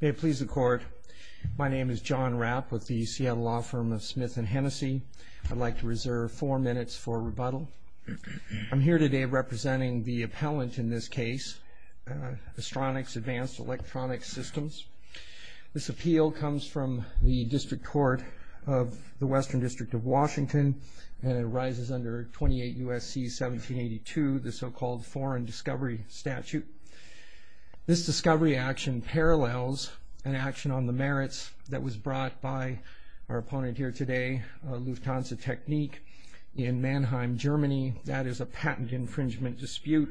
May it please the court. My name is John Rapp with the Seattle Law Firm of Smith and Hennessey. I'd like to reserve four minutes for rebuttal. I'm here today representing the appellant in this case, Astronics Advanced Electronics Systems. This appeal comes from the District Court of the Western District of Washington and it arises under 28 U.S.C. 1782, the so-called Foreign Discovery Statute. This discovery action parallels an action on the merits that was brought by our opponent here today, Lufthansa Technik in Mannheim, Germany. That is a patent infringement dispute.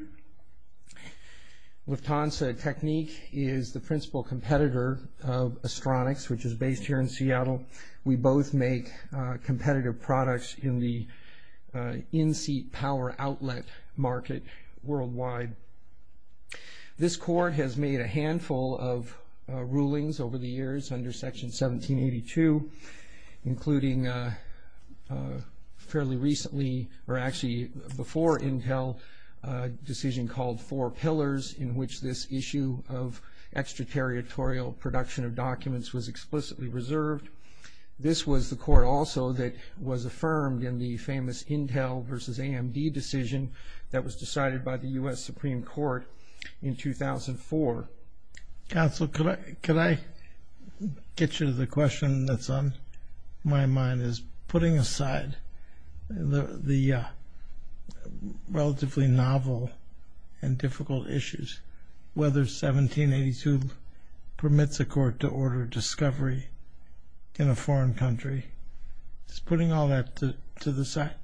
Lufthansa Technik is the principal competitor of Astronics, which is based here in Seattle. We both make competitive products in the power outlet market worldwide. This court has made a handful of rulings over the years under Section 1782, including fairly recently, or actually before Intel, a decision called Four Pillars in which this issue of extraterritorial production of documents was explicitly reserved. This was the court also that was a decision that was decided by the U.S. Supreme Court in 2004. Counsel, could I get you to the question that's on my mind, is putting aside the relatively novel and difficult issues, whether 1782 permits a court to order discovery in a foreign country, it's putting all that to the side.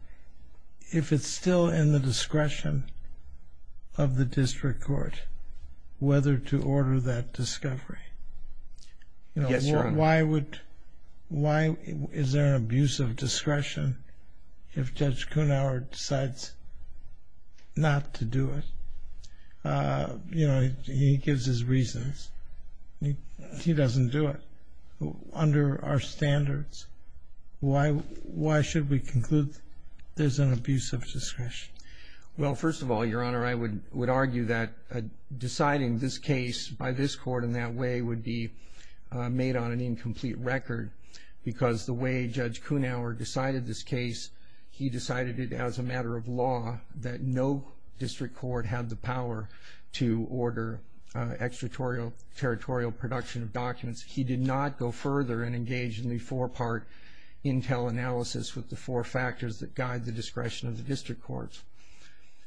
If it's still in the discretion of the district court whether to order that discovery, you know, why would, why is there an abuse of discretion if Judge Kunauer decides not to do it? You know, he gives his reasons. He doesn't do it. Under our standards, why should we conclude there's an abuse of discretion? Well, first of all, Your Honor, I would argue that deciding this case by this court in that way would be made on an incomplete record because the way Judge Kunauer did it was a matter of law that no district court had the power to order extraterritorial production of documents. He did not go further and engage in the four-part intel analysis with the four factors that guide the discretion of the district courts.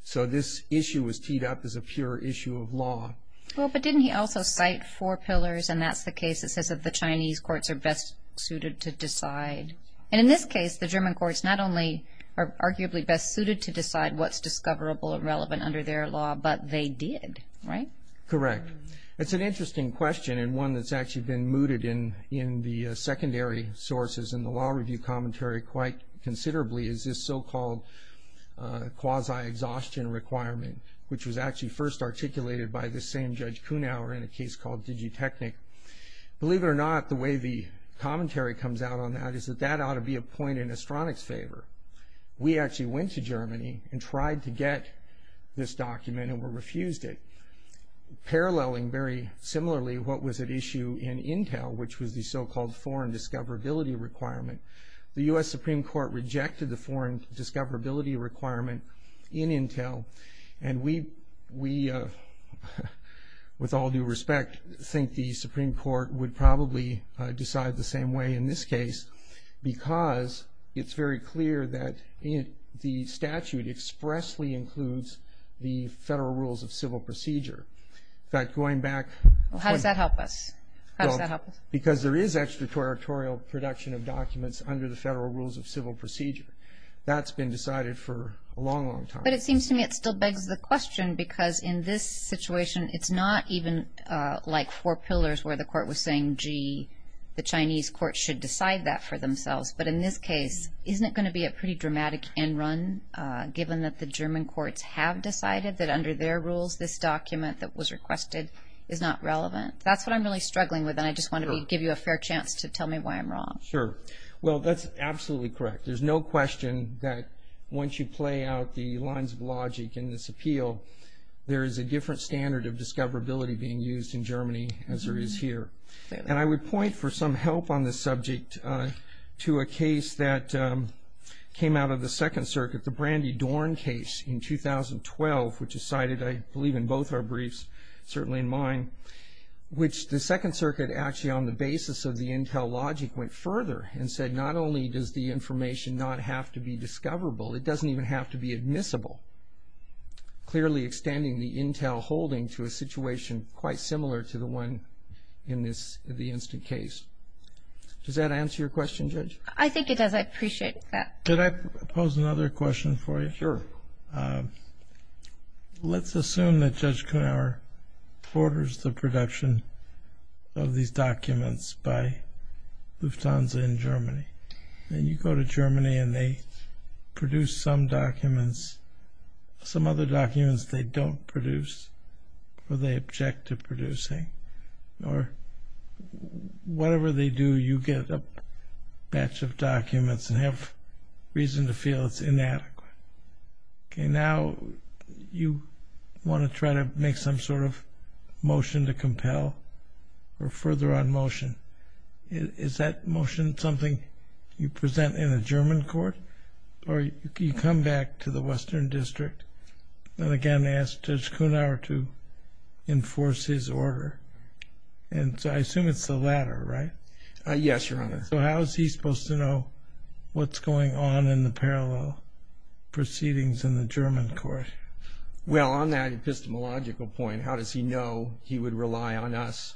So this issue was teed up as a pure issue of law. Well, but didn't he also cite four pillars and that's the case that says that the Chinese courts are best suited to decide. And in this case, the German courts not only are arguably best suited to decide what's discoverable or relevant under their law, but they did, right? Correct. It's an interesting question and one that's actually been mooted in the secondary sources in the law review commentary quite considerably is this so called quasi-exhaustion requirement, which was actually first articulated by the same Judge Kunauer in a case called Digitechnik. Believe it or not, the way the We actually went to Germany and tried to get this document and were refused it. Paralleling very similarly what was at issue in intel, which was the so-called foreign discoverability requirement. The U.S. Supreme Court rejected the foreign discoverability requirement in intel and we, with all due respect, think the Supreme Court would probably decide the same way in this case because it's very clear that the statute expressly includes the Federal Rules of Civil Procedure. But going back... Well, how does that help us? How does that help us? Because there is extraterritorial production of documents under the Federal Rules of Civil Procedure. That's been decided for a long, long time. But it seems to me it still begs the question because in this situation, it's not even like four pillars where the court was saying, gee, the Chinese court should decide that for themselves. But in this case, isn't it going to be a pretty dramatic end run given that the German courts have decided that under their rules, this document that was requested is not relevant? That's what I'm really struggling with and I just want to give you a fair chance to tell me why I'm wrong. Sure. Well, that's absolutely correct. There's no question that once you play out the lines of logic in this appeal, there is a different standard of discoverability being used in Germany as there is here. And I would point for some help on this subject to a case that came out of the Second Circuit, the Brandy Dorn case in 2012, which is cited, I believe, in both our briefs, certainly in mine, which the Second Circuit actually on the basis of the intel logic went further and said not only does the information not have to be discoverable, it doesn't even have to be admissible. Clearly extending the intel holding to a Does that answer your question, Judge? I think it does. I appreciate that. Could I pose another question for you? Sure. Let's assume that Judge Knauer orders the production of these documents by Lufthansa in Germany. Then you go to Germany and they produce some documents, some other documents they don't produce or they object to producing or whatever they do, you get a batch of documents and have reason to feel it's inadequate. Okay, now you want to try to make some sort of motion to compel or further on motion. Is that motion something you present in a German court or you come back to the Western District and again ask Judge Knauer to enforce his order? And so I assume it's the latter, right? Yes, Your Honor. So how is he supposed to know what's going on in the parallel proceedings in the German court? Well, on that epistemological point, how does he know he would rely on us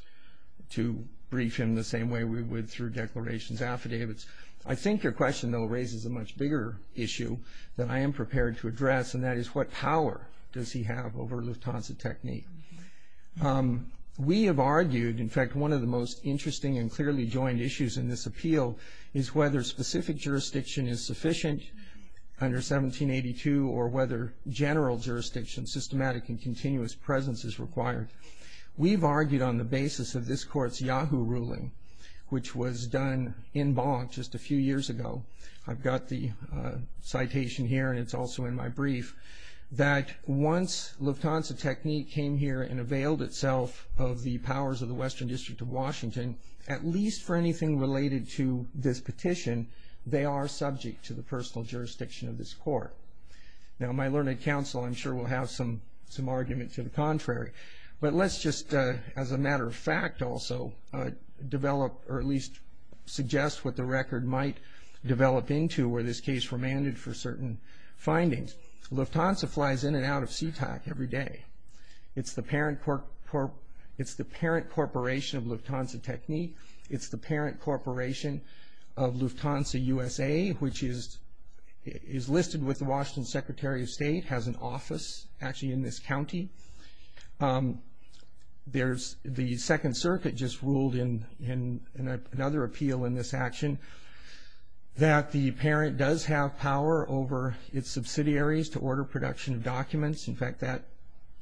to brief him the same way we would through declarations affidavits? I think your question though raises a much bigger issue that I am prepared to address and that is what power does he have over Lufthansa Technik? We have argued, in fact, one of the most interesting and clearly joined issues in this appeal is whether specific jurisdiction is sufficient under 1782 or whether general jurisdiction, systematic and continuous presence is required. We've argued on the basis of this court's Yahoo ruling, which was done in Bonn just a few years ago. I've got the that once Lufthansa Technik came here and availed itself of the powers of the Western District of Washington, at least for anything related to this petition, they are subject to the personal jurisdiction of this court. Now my learned counsel I'm sure will have some argument to the contrary, but let's just as a matter of fact also develop or at least suggest what the record might develop into where this case remanded for certain findings. Lufthansa flies in and out of Sea-Tac every day. It's the parent corporation of Lufthansa Technik. It's the parent corporation of Lufthansa USA, which is listed with the Washington Secretary of State, has an office actually in this county. There's The Second Circuit just ruled in another appeal in this action that the parent does have power over its subsidiaries to order production of documents. In fact, that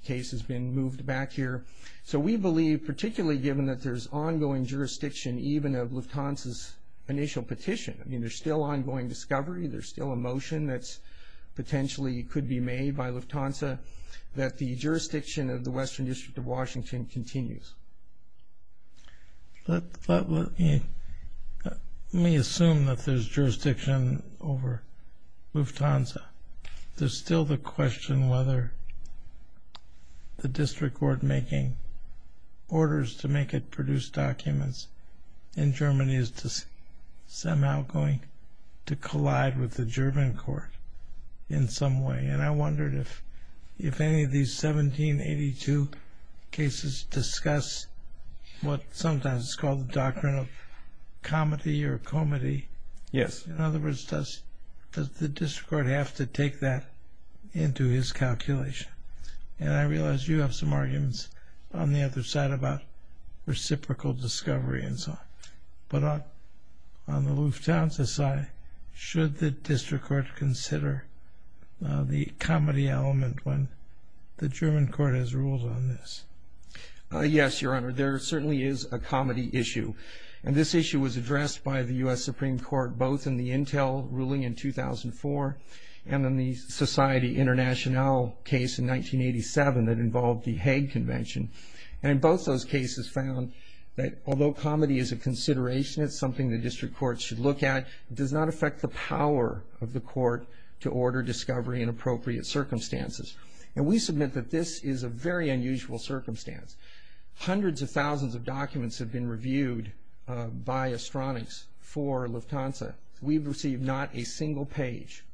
case has been moved back here. So we believe, particularly given that there's ongoing jurisdiction even of Lufthansa's initial petition, I mean there's still ongoing discovery, there's still a motion that's potentially could be made by Lufthansa, that the jurisdiction of the Western District of Let me assume that there's jurisdiction over Lufthansa. There's still the question whether the district court making orders to make it produce documents in Germany is just somehow going to collide with the German court in some way. And I wondered if if any of these 1782 cases discuss what sometimes is called the doctrine of comedy or comedy. Yes. In other words, does the district court have to take that into his calculation? And I realized you have some arguments on the other side about reciprocal discovery and so on. But on the Lufthansa side, should the district court consider the comedy element when the German court has ruled on this? Yes, Your Honor. There certainly is a comedy issue. And this issue was addressed by the U. S. Supreme Court both in the Intel ruling in 2004 and then the Society International case in 1987 that involved the Hague Convention. And in both those cases found that although comedy is a consideration, it's something the district court should look at. It does not affect the power of the court to order discovery in appropriate circumstances. And we submit that this is a very unusual circumstance. Hundreds of thousands of documents have been reviewed by Astronix for Lufthansa. We've received not a single page, not a single page, of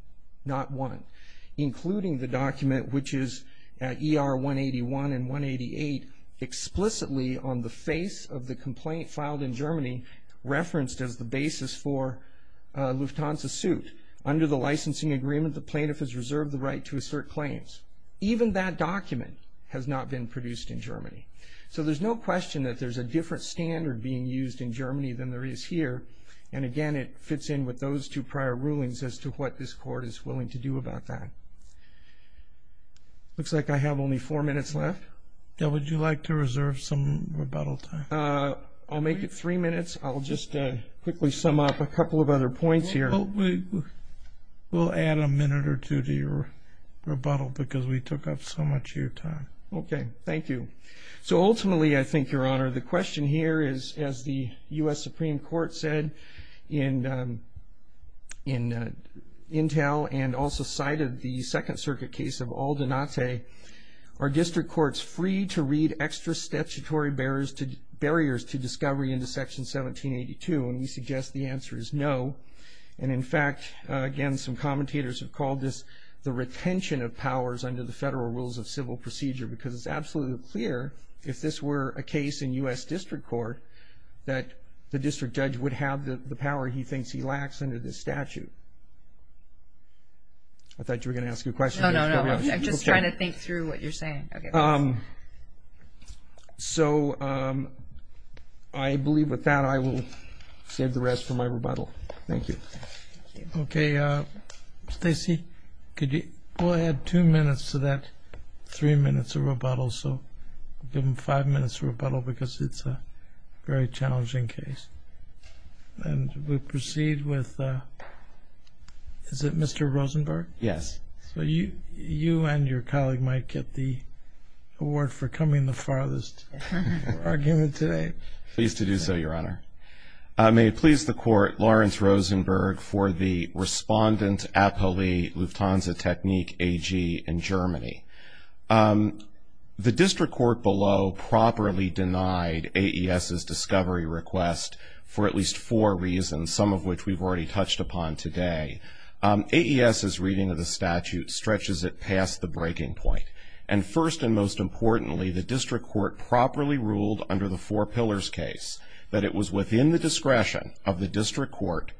the face of the complaint filed in Germany referenced as the basis for Lufthansa suit. Under the licensing agreement, the plaintiff has reserved the right to assert claims. Even that document has not been produced in Germany. So there's no question that there's a different standard being used in Germany than there is here. And again, it fits in with those two prior rulings as to what this court is willing to do about that. Looks like I have only four minutes left. Yeah, would you like to reserve some rebuttal time? I'll make it three minutes. I'll just quickly sum up a couple of other points here. We'll add a minute or two to your rebuttal because we took up so much of your time. Okay. Thank you. So ultimately, I think, Your Honor, the question here is, as the U.S. Supreme Court said in Intel and also cited the Second Circuit case of Aldenaze, are district courts free to read extra statutory barriers to discovery into Section 1782? And we suggest the answer is no. And in fact, again, some commentators have called this the retention of powers under the federal rules of civil procedure because it's absolutely clear, if this were a case in U.S. District Court, that the district judge would have the power he thinks he lacks under this statute. I thought you were going to ask a question. No, no, no. I'm just trying to think through what you're saying. So I believe with that, I will save the rest for my rebuttal. Thank you. Okay, Stacey, could you go ahead two minutes to that three minutes of rebuttal? So give him five minutes of rebuttal because it's a very challenging case. And we proceed with, is it Mr. Rosenberg? Yes. So you and your colleague might get the award for coming the farthest argument today. Pleased to do so, Your Honor. May it please the Court, Lawrence Rosenberg for the Respondent Appellee Lufthansa Technique AG in Germany. The district court below properly denied AES's discovery request for at least four reasons, some of which we've already touched upon today. AES's reading of the statute stretches it past the breaking point. And first and most importantly, the district court properly ruled under the four pillars case that it was within the discretion of the district court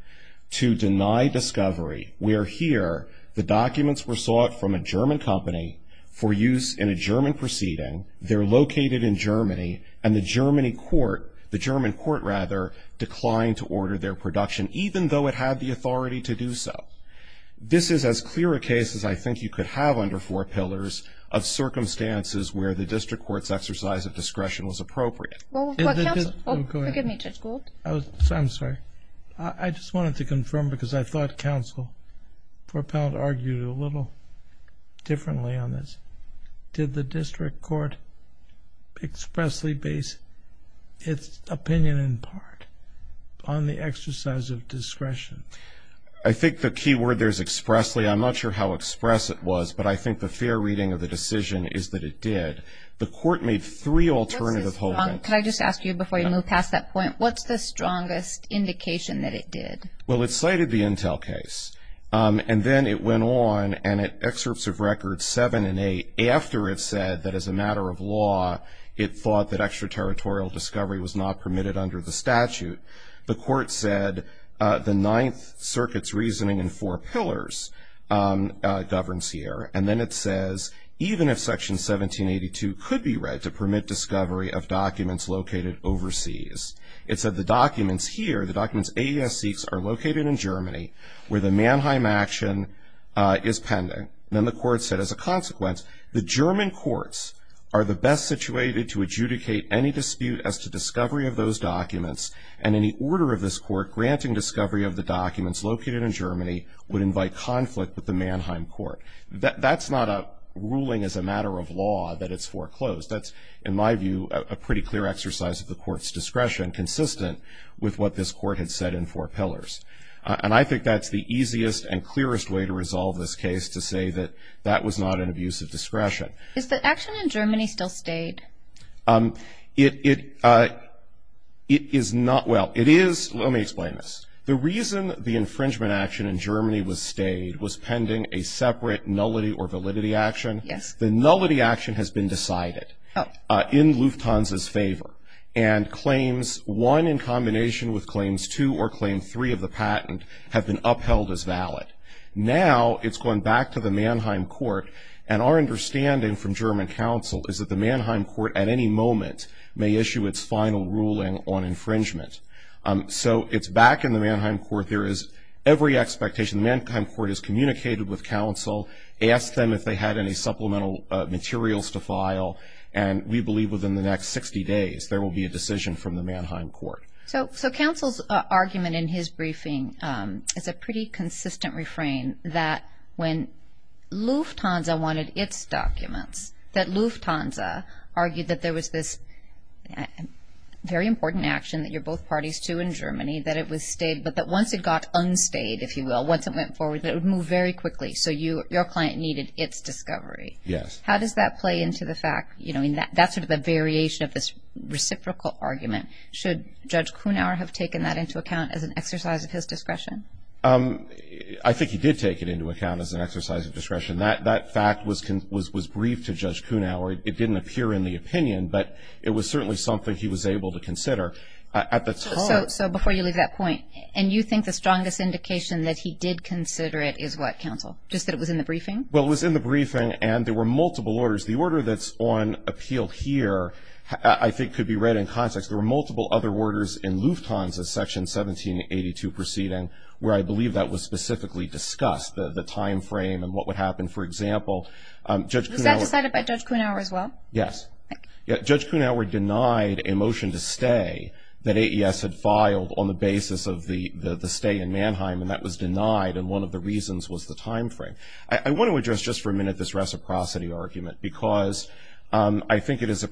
to deny discovery. We are here. The documents were sought from a German company for use in a German proceeding. They're located in Germany. And the German court, the German court rather declined to order their production, even though it had the authority to do so. This is as clear a case as I think you could have under four pillars of circumstances where the district court's exercise of discretion was appropriate. Forgive me, Judge Gould. I'm sorry. I just wanted to confirm because I thought counsel four pound argued a little differently on this. Did the district court expressly base its opinion in part on the exercise of discretion? I think the key word there is expressly. I'm not sure how express it was, but I think the fair reading of the decision is that it did. The court made three alternative hoping. Can I just ask you before you move past that point, what's the strongest indication that it did? Well, it cited the intel case. Um, after it said that as a matter of law, it thought that extraterritorial discovery was not permitted under the statute. The court said, uh, the ninth circuits reasoning in four pillars, um, governs here. And then it says, even if section 1782 could be read to permit discovery of documents located overseas, it said the documents here, the documents AES seeks are located in Germany where the Mannheim action, uh, is pending. Then the court said as a the German courts are the best situated to adjudicate any dispute as to discovery of those documents. And in the order of this court, granting discovery of the documents located in Germany would invite conflict with the Mannheim court. That's not a ruling as a matter of law that it's foreclosed. That's, in my view, a pretty clear exercise of the court's discretion consistent with what this court had said in four pillars. And I think that's the easiest and clearest way to resolve this case to say that that was not an abuse of discretion. Is the action in Germany still stayed? Um, it, uh, it is not. Well, it is. Let me explain this. The reason the infringement action in Germany was stayed was pending a separate nullity or validity action. Yes, the nullity action has been decided in Lufthansa's favor and claims one in combination with claims to or claim three of the patent have been upheld as And our understanding from German counsel is that the Mannheim court at any moment may issue its final ruling on infringement. Um, so it's back in the Mannheim court. There is every expectation. The Mannheim court has communicated with counsel, asked them if they had any supplemental materials to file. And we believe within the next 60 days there will be a decision from the Mannheim court. So, so counsel's argument in his briefing, um, is a pretty consistent refrain that when Lufthansa wanted its documents that Lufthansa argued that there was this very important action that you're both parties to in Germany, that it was stayed, but that once it got unstayed, if you will, once it went forward, it would move very quickly. So you, your client needed its discovery. Yes. How does that play into the fact, you know, in that, that's sort of a variation of this reciprocal argument. Should judge Kuhnauer have taken that into account as an exercise of his discretion? Um, I think he did take it into account as an exercise of discretion. That, that fact was, was, was briefed to judge Kuhnauer. It didn't appear in the opinion, but it was certainly something he was able to consider at the time. So before you leave that point and you think the strongest indication that he did consider it is what counsel just that it was in the briefing. Well, it was in the briefing and there were multiple orders. The order that's on appeal here, I think could be read in context. There were multiple other orders in Lufthansa section 1782 proceeding where I believe that was specifically discussed the timeframe and what would happen. For example, um, judge decided by judge Kuhnauer as well. Yes. Judge Kuhnauer denied a motion to stay that AES had filed on the basis of the stay in Mannheim and that was denied. And one of the reasons was the timeframe. I want to address just for a minute, this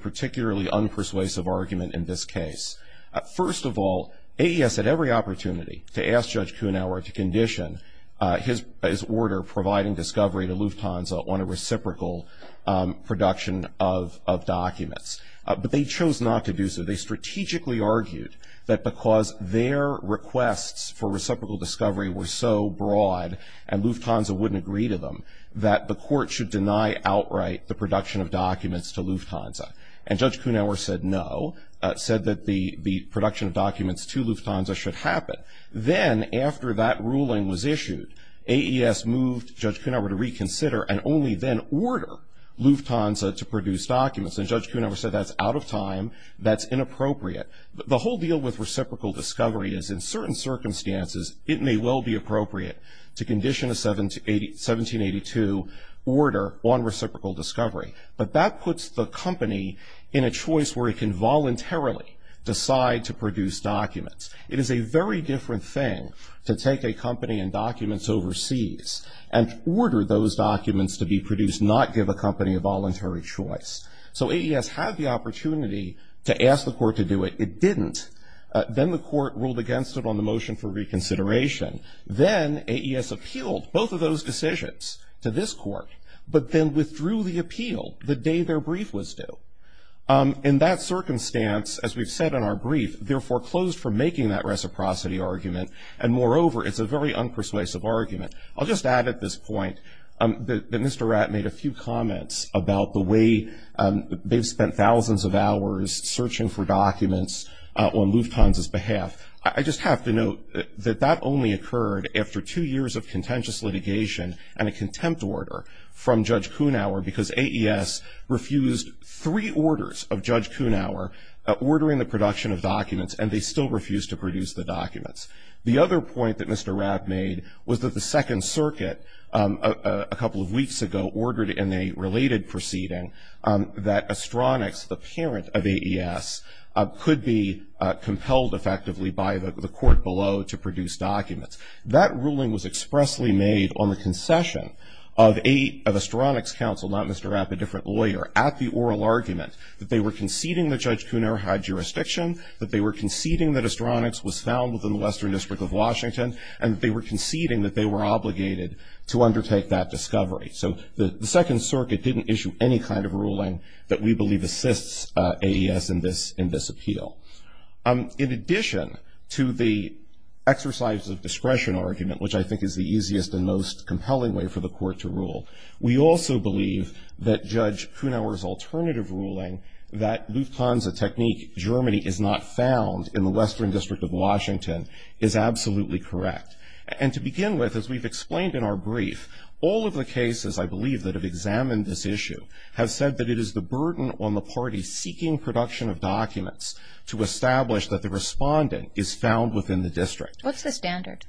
particularly unpersuasive argument in this case. First of all, AES had every opportunity to ask judge Kuhnauer to condition his, his order providing discovery to Lufthansa on a reciprocal production of, of documents. But they chose not to do so. They strategically argued that because their requests for reciprocal discovery were so broad and Lufthansa wouldn't agree to them, that the court should deny outright the production of documents to Lufthansa. And judge Kuhnauer said, no, said that the, the production of documents to Lufthansa should happen. Then after that ruling was issued, AES moved judge Kuhnauer to reconsider and only then order Lufthansa to produce documents. And judge Kuhnauer said, that's out of time. That's inappropriate. The whole deal with reciprocal discovery is in certain circumstances, it may well be to order on reciprocal discovery. But that puts the company in a choice where it can voluntarily decide to produce documents. It is a very different thing to take a company and documents overseas and order those documents to be produced, not give a company a voluntary choice. So AES had the opportunity to ask the court to do it. It didn't. Then the court ruled against it on the motion for this court, but then withdrew the appeal the day their brief was due. In that circumstance, as we've said in our brief, they're foreclosed for making that reciprocity argument. And moreover, it's a very unpersuasive argument. I'll just add at this point that Mr. Ratt made a few comments about the way they've spent thousands of hours searching for documents on Lufthansa's behalf. I just have to note that that only occurred after two years of contentious litigation and a contempt order from Judge Kunauer because AES refused three orders of Judge Kunauer ordering the production of documents, and they still refused to produce the documents. The other point that Mr. Ratt made was that the Second Circuit, a couple of weeks ago, ordered in a related proceeding that Astronix, the parent of AES, could be compelled effectively by the court below to produce a concession of Astronix's counsel, not Mr. Ratt, a different lawyer, at the oral argument that they were conceding that Judge Kunauer had jurisdiction, that they were conceding that Astronix was found within the Western District of Washington, and that they were conceding that they were obligated to undertake that discovery. So the Second Circuit didn't issue any kind of ruling that we believe assists AES in this appeal. In addition to the exercise of discretion argument, which I think is the easiest and most compelling way for the court to rule, we also believe that Judge Kunauer's alternative ruling that Lufthansa Technique Germany is not found in the Western District of Washington is absolutely correct. And to begin with, as we've explained in our brief, all of the cases, I believe, that have examined this issue have said that it is the burden on the party seeking production of documents to establish that the standard.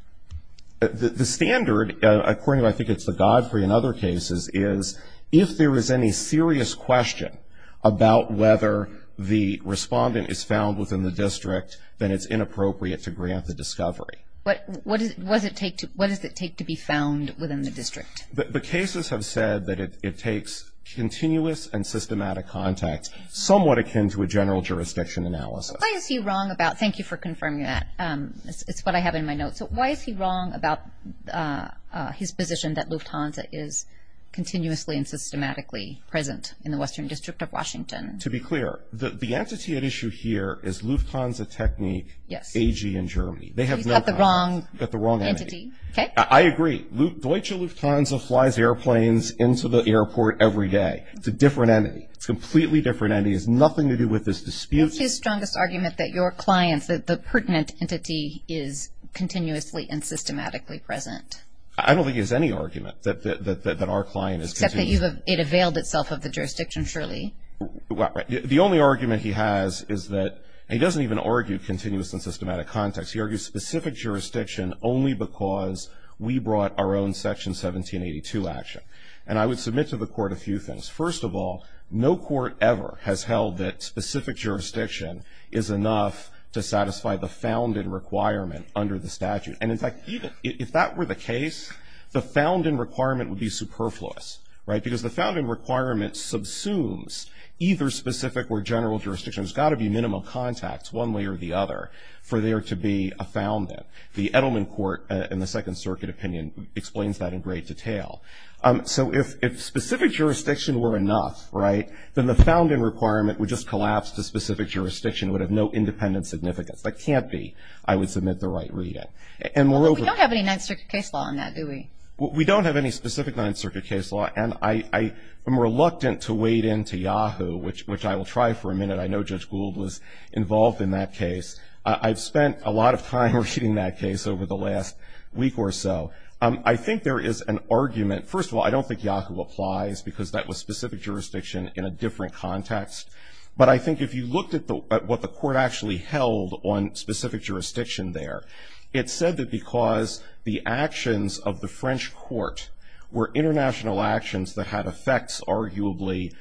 The standard, according to I think it's the Godfrey and other cases, is if there is any serious question about whether the respondent is found within the district, then it's inappropriate to grant the discovery. What does it take to be found within the district? The cases have said that it takes continuous and systematic contact, somewhat akin to a general jurisdiction analysis. What is he wrong about? Thank you for confirming that. It's what I have in my notes. So why is he wrong about his position that Lufthansa is continuously and systematically present in the Western District of Washington? To be clear, the entity at issue here is Lufthansa Technique AG in Germany. They have no contact. He's got the wrong entity. I agree. Deutsche Lufthansa flies airplanes into the airport every day. It's a different entity. It's a completely different entity. It has nothing to do with this dispute. What's his point? The pertinent entity is continuously and systematically present. I don't think he has any argument that our client is continuously present. Except that it availed itself of the jurisdiction, surely? The only argument he has is that he doesn't even argue continuous and systematic context. He argues specific jurisdiction only because we brought our own Section 1782 action. And I would submit to the court a few things. First of all, no court ever has held that specific jurisdiction is enough to have a found-in requirement under the statute. And in fact, if that were the case, the found-in requirement would be superfluous, right? Because the found-in requirement subsumes either specific or general jurisdiction. There's got to be minimal contacts one way or the other for there to be a found-in. The Edelman Court in the Second Circuit opinion explains that in great detail. So if specific jurisdiction were enough, right, then the found-in requirement would just collapse to specific jurisdiction. It would have no independent significance. That can't be, I would submit the right reading. Although we don't have any Ninth Circuit case law on that, do we? We don't have any specific Ninth Circuit case law, and I am reluctant to wade into Yahoo, which I will try for a minute. I know Judge Gould was involved in that case. I've spent a lot of time reading that case over the last week or so. I think there is an argument. First of all, I don't think Yahoo applies because that was specific jurisdiction in a different context. But I think if you looked at what the court actually held on specific jurisdiction there, it said that because the actions of the French court were international actions that had effects, arguably,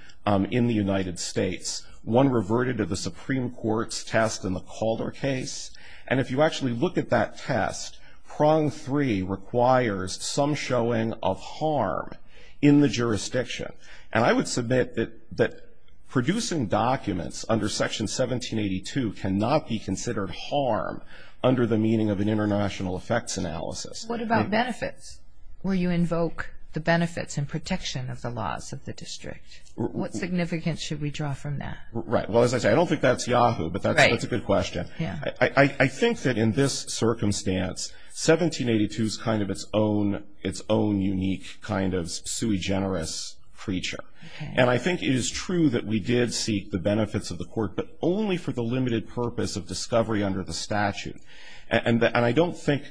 in the United States, one reverted to the Supreme Court's test in the Calder case. And if you actually look at that test, prong three requires some showing of harm in the jurisdiction. And I would submit that producing documents under Section 1782 cannot be considered harm under the meaning of an international effects analysis. What about benefits, where you invoke the benefits and protection of the laws of the district? What significance should we draw from that? Right. Well, as I say, I don't think that's Yahoo, but that's a good question. I think that in this circumstance, 1782 is kind of its own unique kind of sui generis creature. And I think it is true that we did seek the benefits of the court, but only for the limited purpose of discovery under the statute. And I don't think...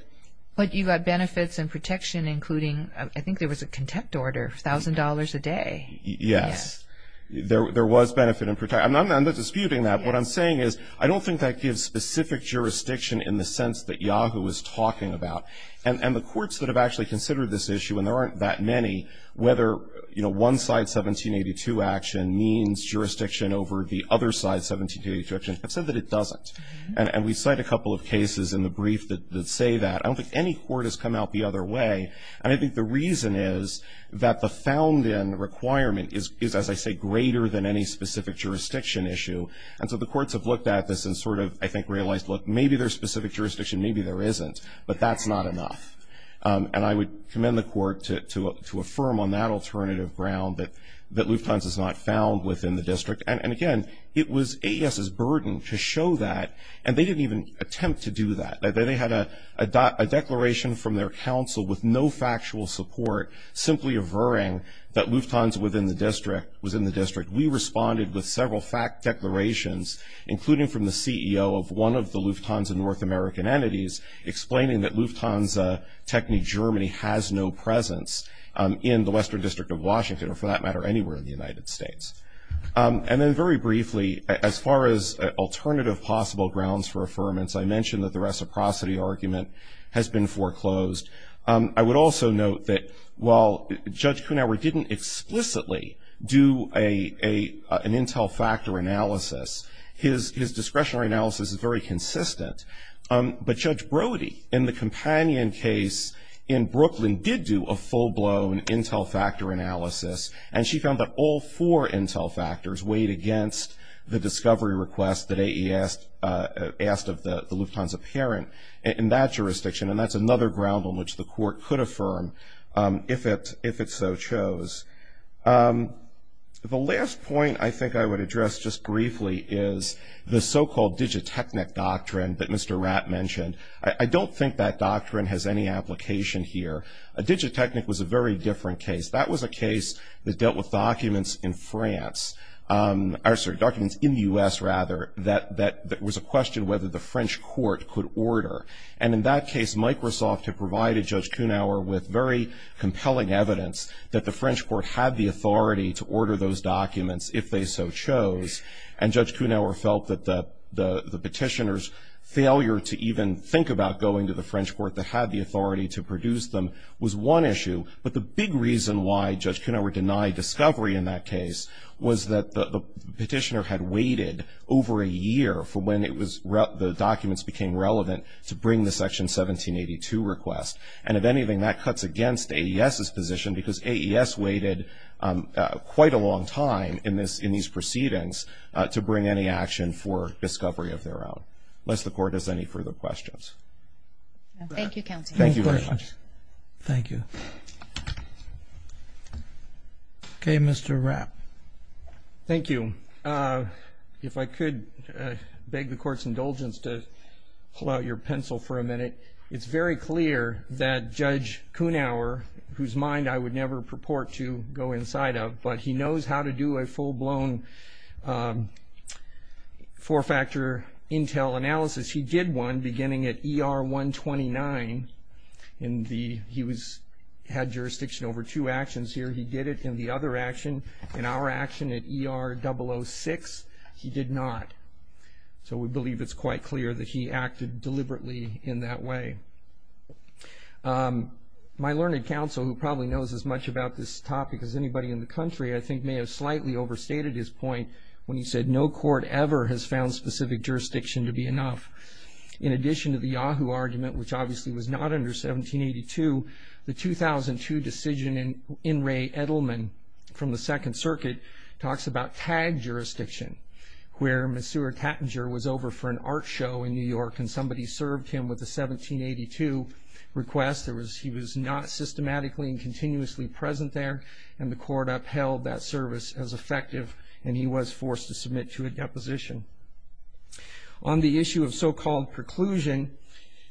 But you got benefits and protection including, I think there was a contempt order, $1,000 a day. Yes. There was benefit and protection. I'm not disputing that. What I'm saying is I don't think that gives specific jurisdiction in the sense that Yahoo is talking about. And the courts that have actually considered this issue, and there aren't that many, whether, you know, one side 1782 action means jurisdiction over the other side 1782 action, have said that it doesn't. And we cite a couple of cases in the brief that say that. I don't think any court has come out the other way. And I think the reason is that the found in requirement is, as I say, greater than any specific jurisdiction issue. And so the courts have looked at this and sort of, I think, realized, look, maybe there's specific jurisdiction, maybe there isn't. But that's not enough. And I would commend the court to affirm on that alternative ground that Lufthansa is not found within the district. And again, it was AES's burden to show that. And they didn't even attempt to do that. They had a declaration from their counsel with no factual support simply averring that Lufthansa was in the district. We responded with several fact declarations, including from the CEO of one of the Lufthansa North American entities, explaining that Lufthansa Techni Germany has no presence in the Western District of Washington, or for that matter, anywhere in the United States. And then very briefly, as far as alternative possible grounds for affirmance, I mentioned that the reciprocity argument has been foreclosed. I would also note that while Judge Kuhnhauer didn't explicitly do an intel factor analysis, his discretionary analysis is very consistent. But Judge Brody, in the companion case in Brooklyn, did do a full-blown intel factor analysis. And she found that all four intel factors weighed against the discovery request that AES asked of the Lufthansa parent in that jurisdiction. And that's another ground on which the court could affirm if it so chose. The last point I think I would address just briefly is the so-called digitechnic doctrine that Mr. Rapp mentioned. I don't think that doctrine has any application here. A digitechnic was a very different case. That was a case that dealt with documents in France, or sorry, documents in the U.S. rather, that that was a question whether the French court could order. And in that case, Microsoft had provided Judge Kuhnhauer with very compelling evidence that the French court had the authority to order those documents if they so chose. And the petitioner's failure to even think about going to the French court that had the authority to produce them was one issue. But the big reason why Judge Kuhnhauer denied discovery in that case was that the petitioner had waited over a year for when the documents became relevant to bring the Section 1782 request. And if anything, that cuts against AES's position because AES waited quite a long time in these proceedings to bring any action for discovery of their own. Unless the court has any further questions. Thank you, Counselor. Thank you very much. Thank you. Okay, Mr. Rapp. Thank you. If I could beg the court's indulgence to pull out your pencil for a minute. It's very clear that Judge Kuhnhauer, whose mind I would never purport to go inside of, but he knows how to do a full-blown four-factor intel analysis. He did one beginning at ER 129. He had jurisdiction over two actions here. He did it in the other action, in our action at ER 006. He did not. So we believe it's quite clear that he acted deliberately in that way. My learned counsel, who probably knows as much about this topic as anybody in the country, I think may have slightly overstated his point when he said, no court ever has found specific jurisdiction to be enough. In addition to the Yahoo argument, which obviously was not under 1782, the 2002 decision in Ray Edelman from the Second Circuit talks about tag jurisdiction, where Masoura Tattinger was over for an art show in New York and somebody served him with a 1782 request. He was not systematically and continuously present there, and the court upheld that service as effective, and he was forced to submit to a deposition. On the issue of so-called preclusion,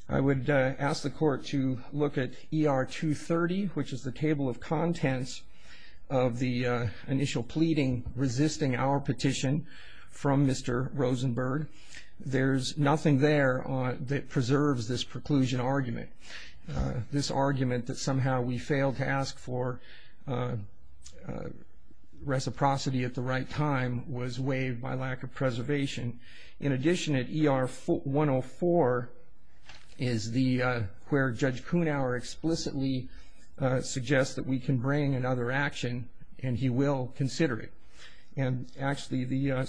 I would ask the court to look at ER 230, which is the table of contents of the initial pleading resisting our petition from Mr. Rosenberg. There's this preclusion argument. This argument that somehow we failed to ask for reciprocity at the right time was waived by lack of preservation. In addition, at ER 104 is where Judge Kunauer explicitly suggests that we can bring another action, and he will consider it. And actually, the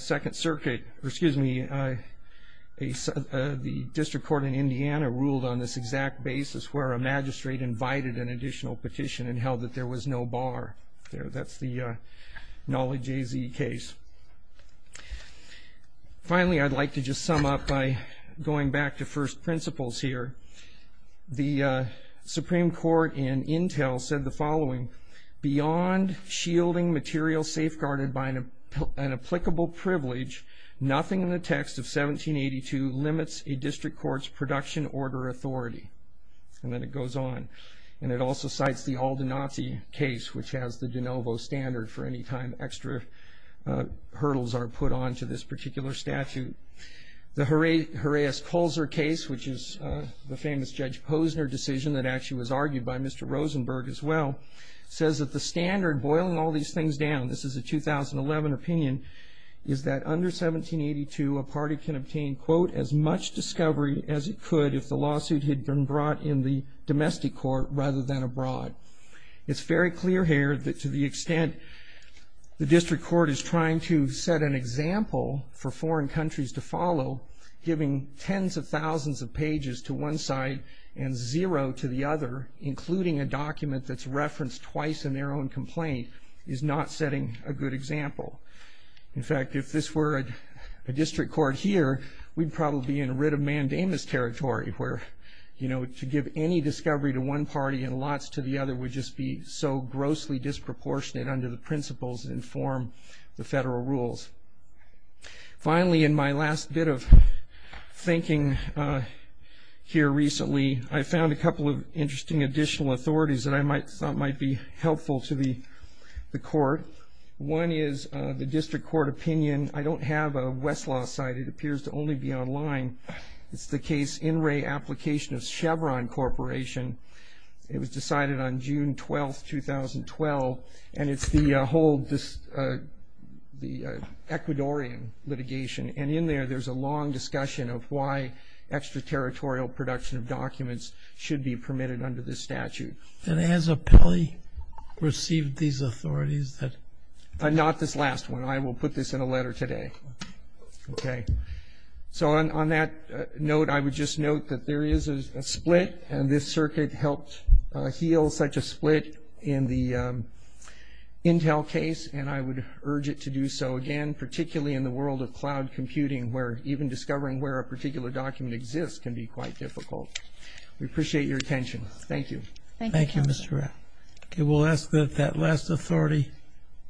District Court in Indiana ruled on this exact basis, where a magistrate invited an additional petition and held that there was no bar there. That's the Knowledge AZ case. Finally, I'd like to just sum up by going back to first principles here. The Supreme Court in Intel said the following, beyond shielding material safeguarded by an applicable privilege, nothing in the text of 1782 limits a court's production order authority. And then it goes on, and it also cites the Aldenazi case, which has the de novo standard for any time extra hurdles are put on to this particular statute. The Horaeus-Kolzer case, which is the famous Judge Posner decision that actually was argued by Mr. Rosenberg as well, says that the standard boiling all these things down, this is a 2011 opinion, is that under 1782 a party can obtain, quote, as much discovery as it could if the lawsuit had been brought in the domestic court rather than abroad. It's very clear here that to the extent the District Court is trying to set an example for foreign countries to follow, giving tens of thousands of pages to one side and zero to the other, including a document that's referenced twice in their own complaint, is not setting a good example. In fact, if this were a District Court here, we'd probably be in a writ of mandamus territory where, you know, to give any discovery to one party and lots to the other would just be so grossly disproportionate under the principles that inform the federal rules. Finally, in my last bit of thinking here recently, I found a couple of interesting additional authorities that I thought might be helpful to the court. One is the District Court opinion. I don't have a Westlaw site. It appears to only be online. It's the case in re-application of Chevron Corporation. It was decided on June 12, 2012, and it's the whole, the Ecuadorian litigation. And in there, there's a long discussion of why extra-territorial production of under this statute. And has Apelli received these authorities that... Not this last one. I will put this in a letter today. Okay. So on that note, I would just note that there is a split, and this circuit helped heal such a split in the Intel case, and I would urge it to do so again, particularly in the world of cloud computing, where even discovering where a particular document exists can be quite difficult. We appreciate your attention. Thank you. Thank you, Mr. Ratt. Okay. We'll ask that that last authority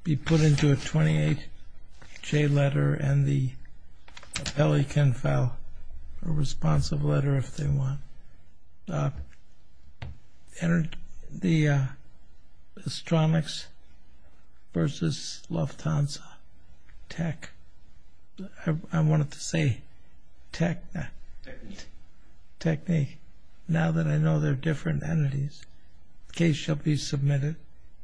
be put into a 28-J letter, and the Apelli can file a responsive letter if they want. The Astronix versus Lufthansa. Tech. I wanted to say tech. Technique. Technique. Now that I know they're different entities. Case shall be submitted.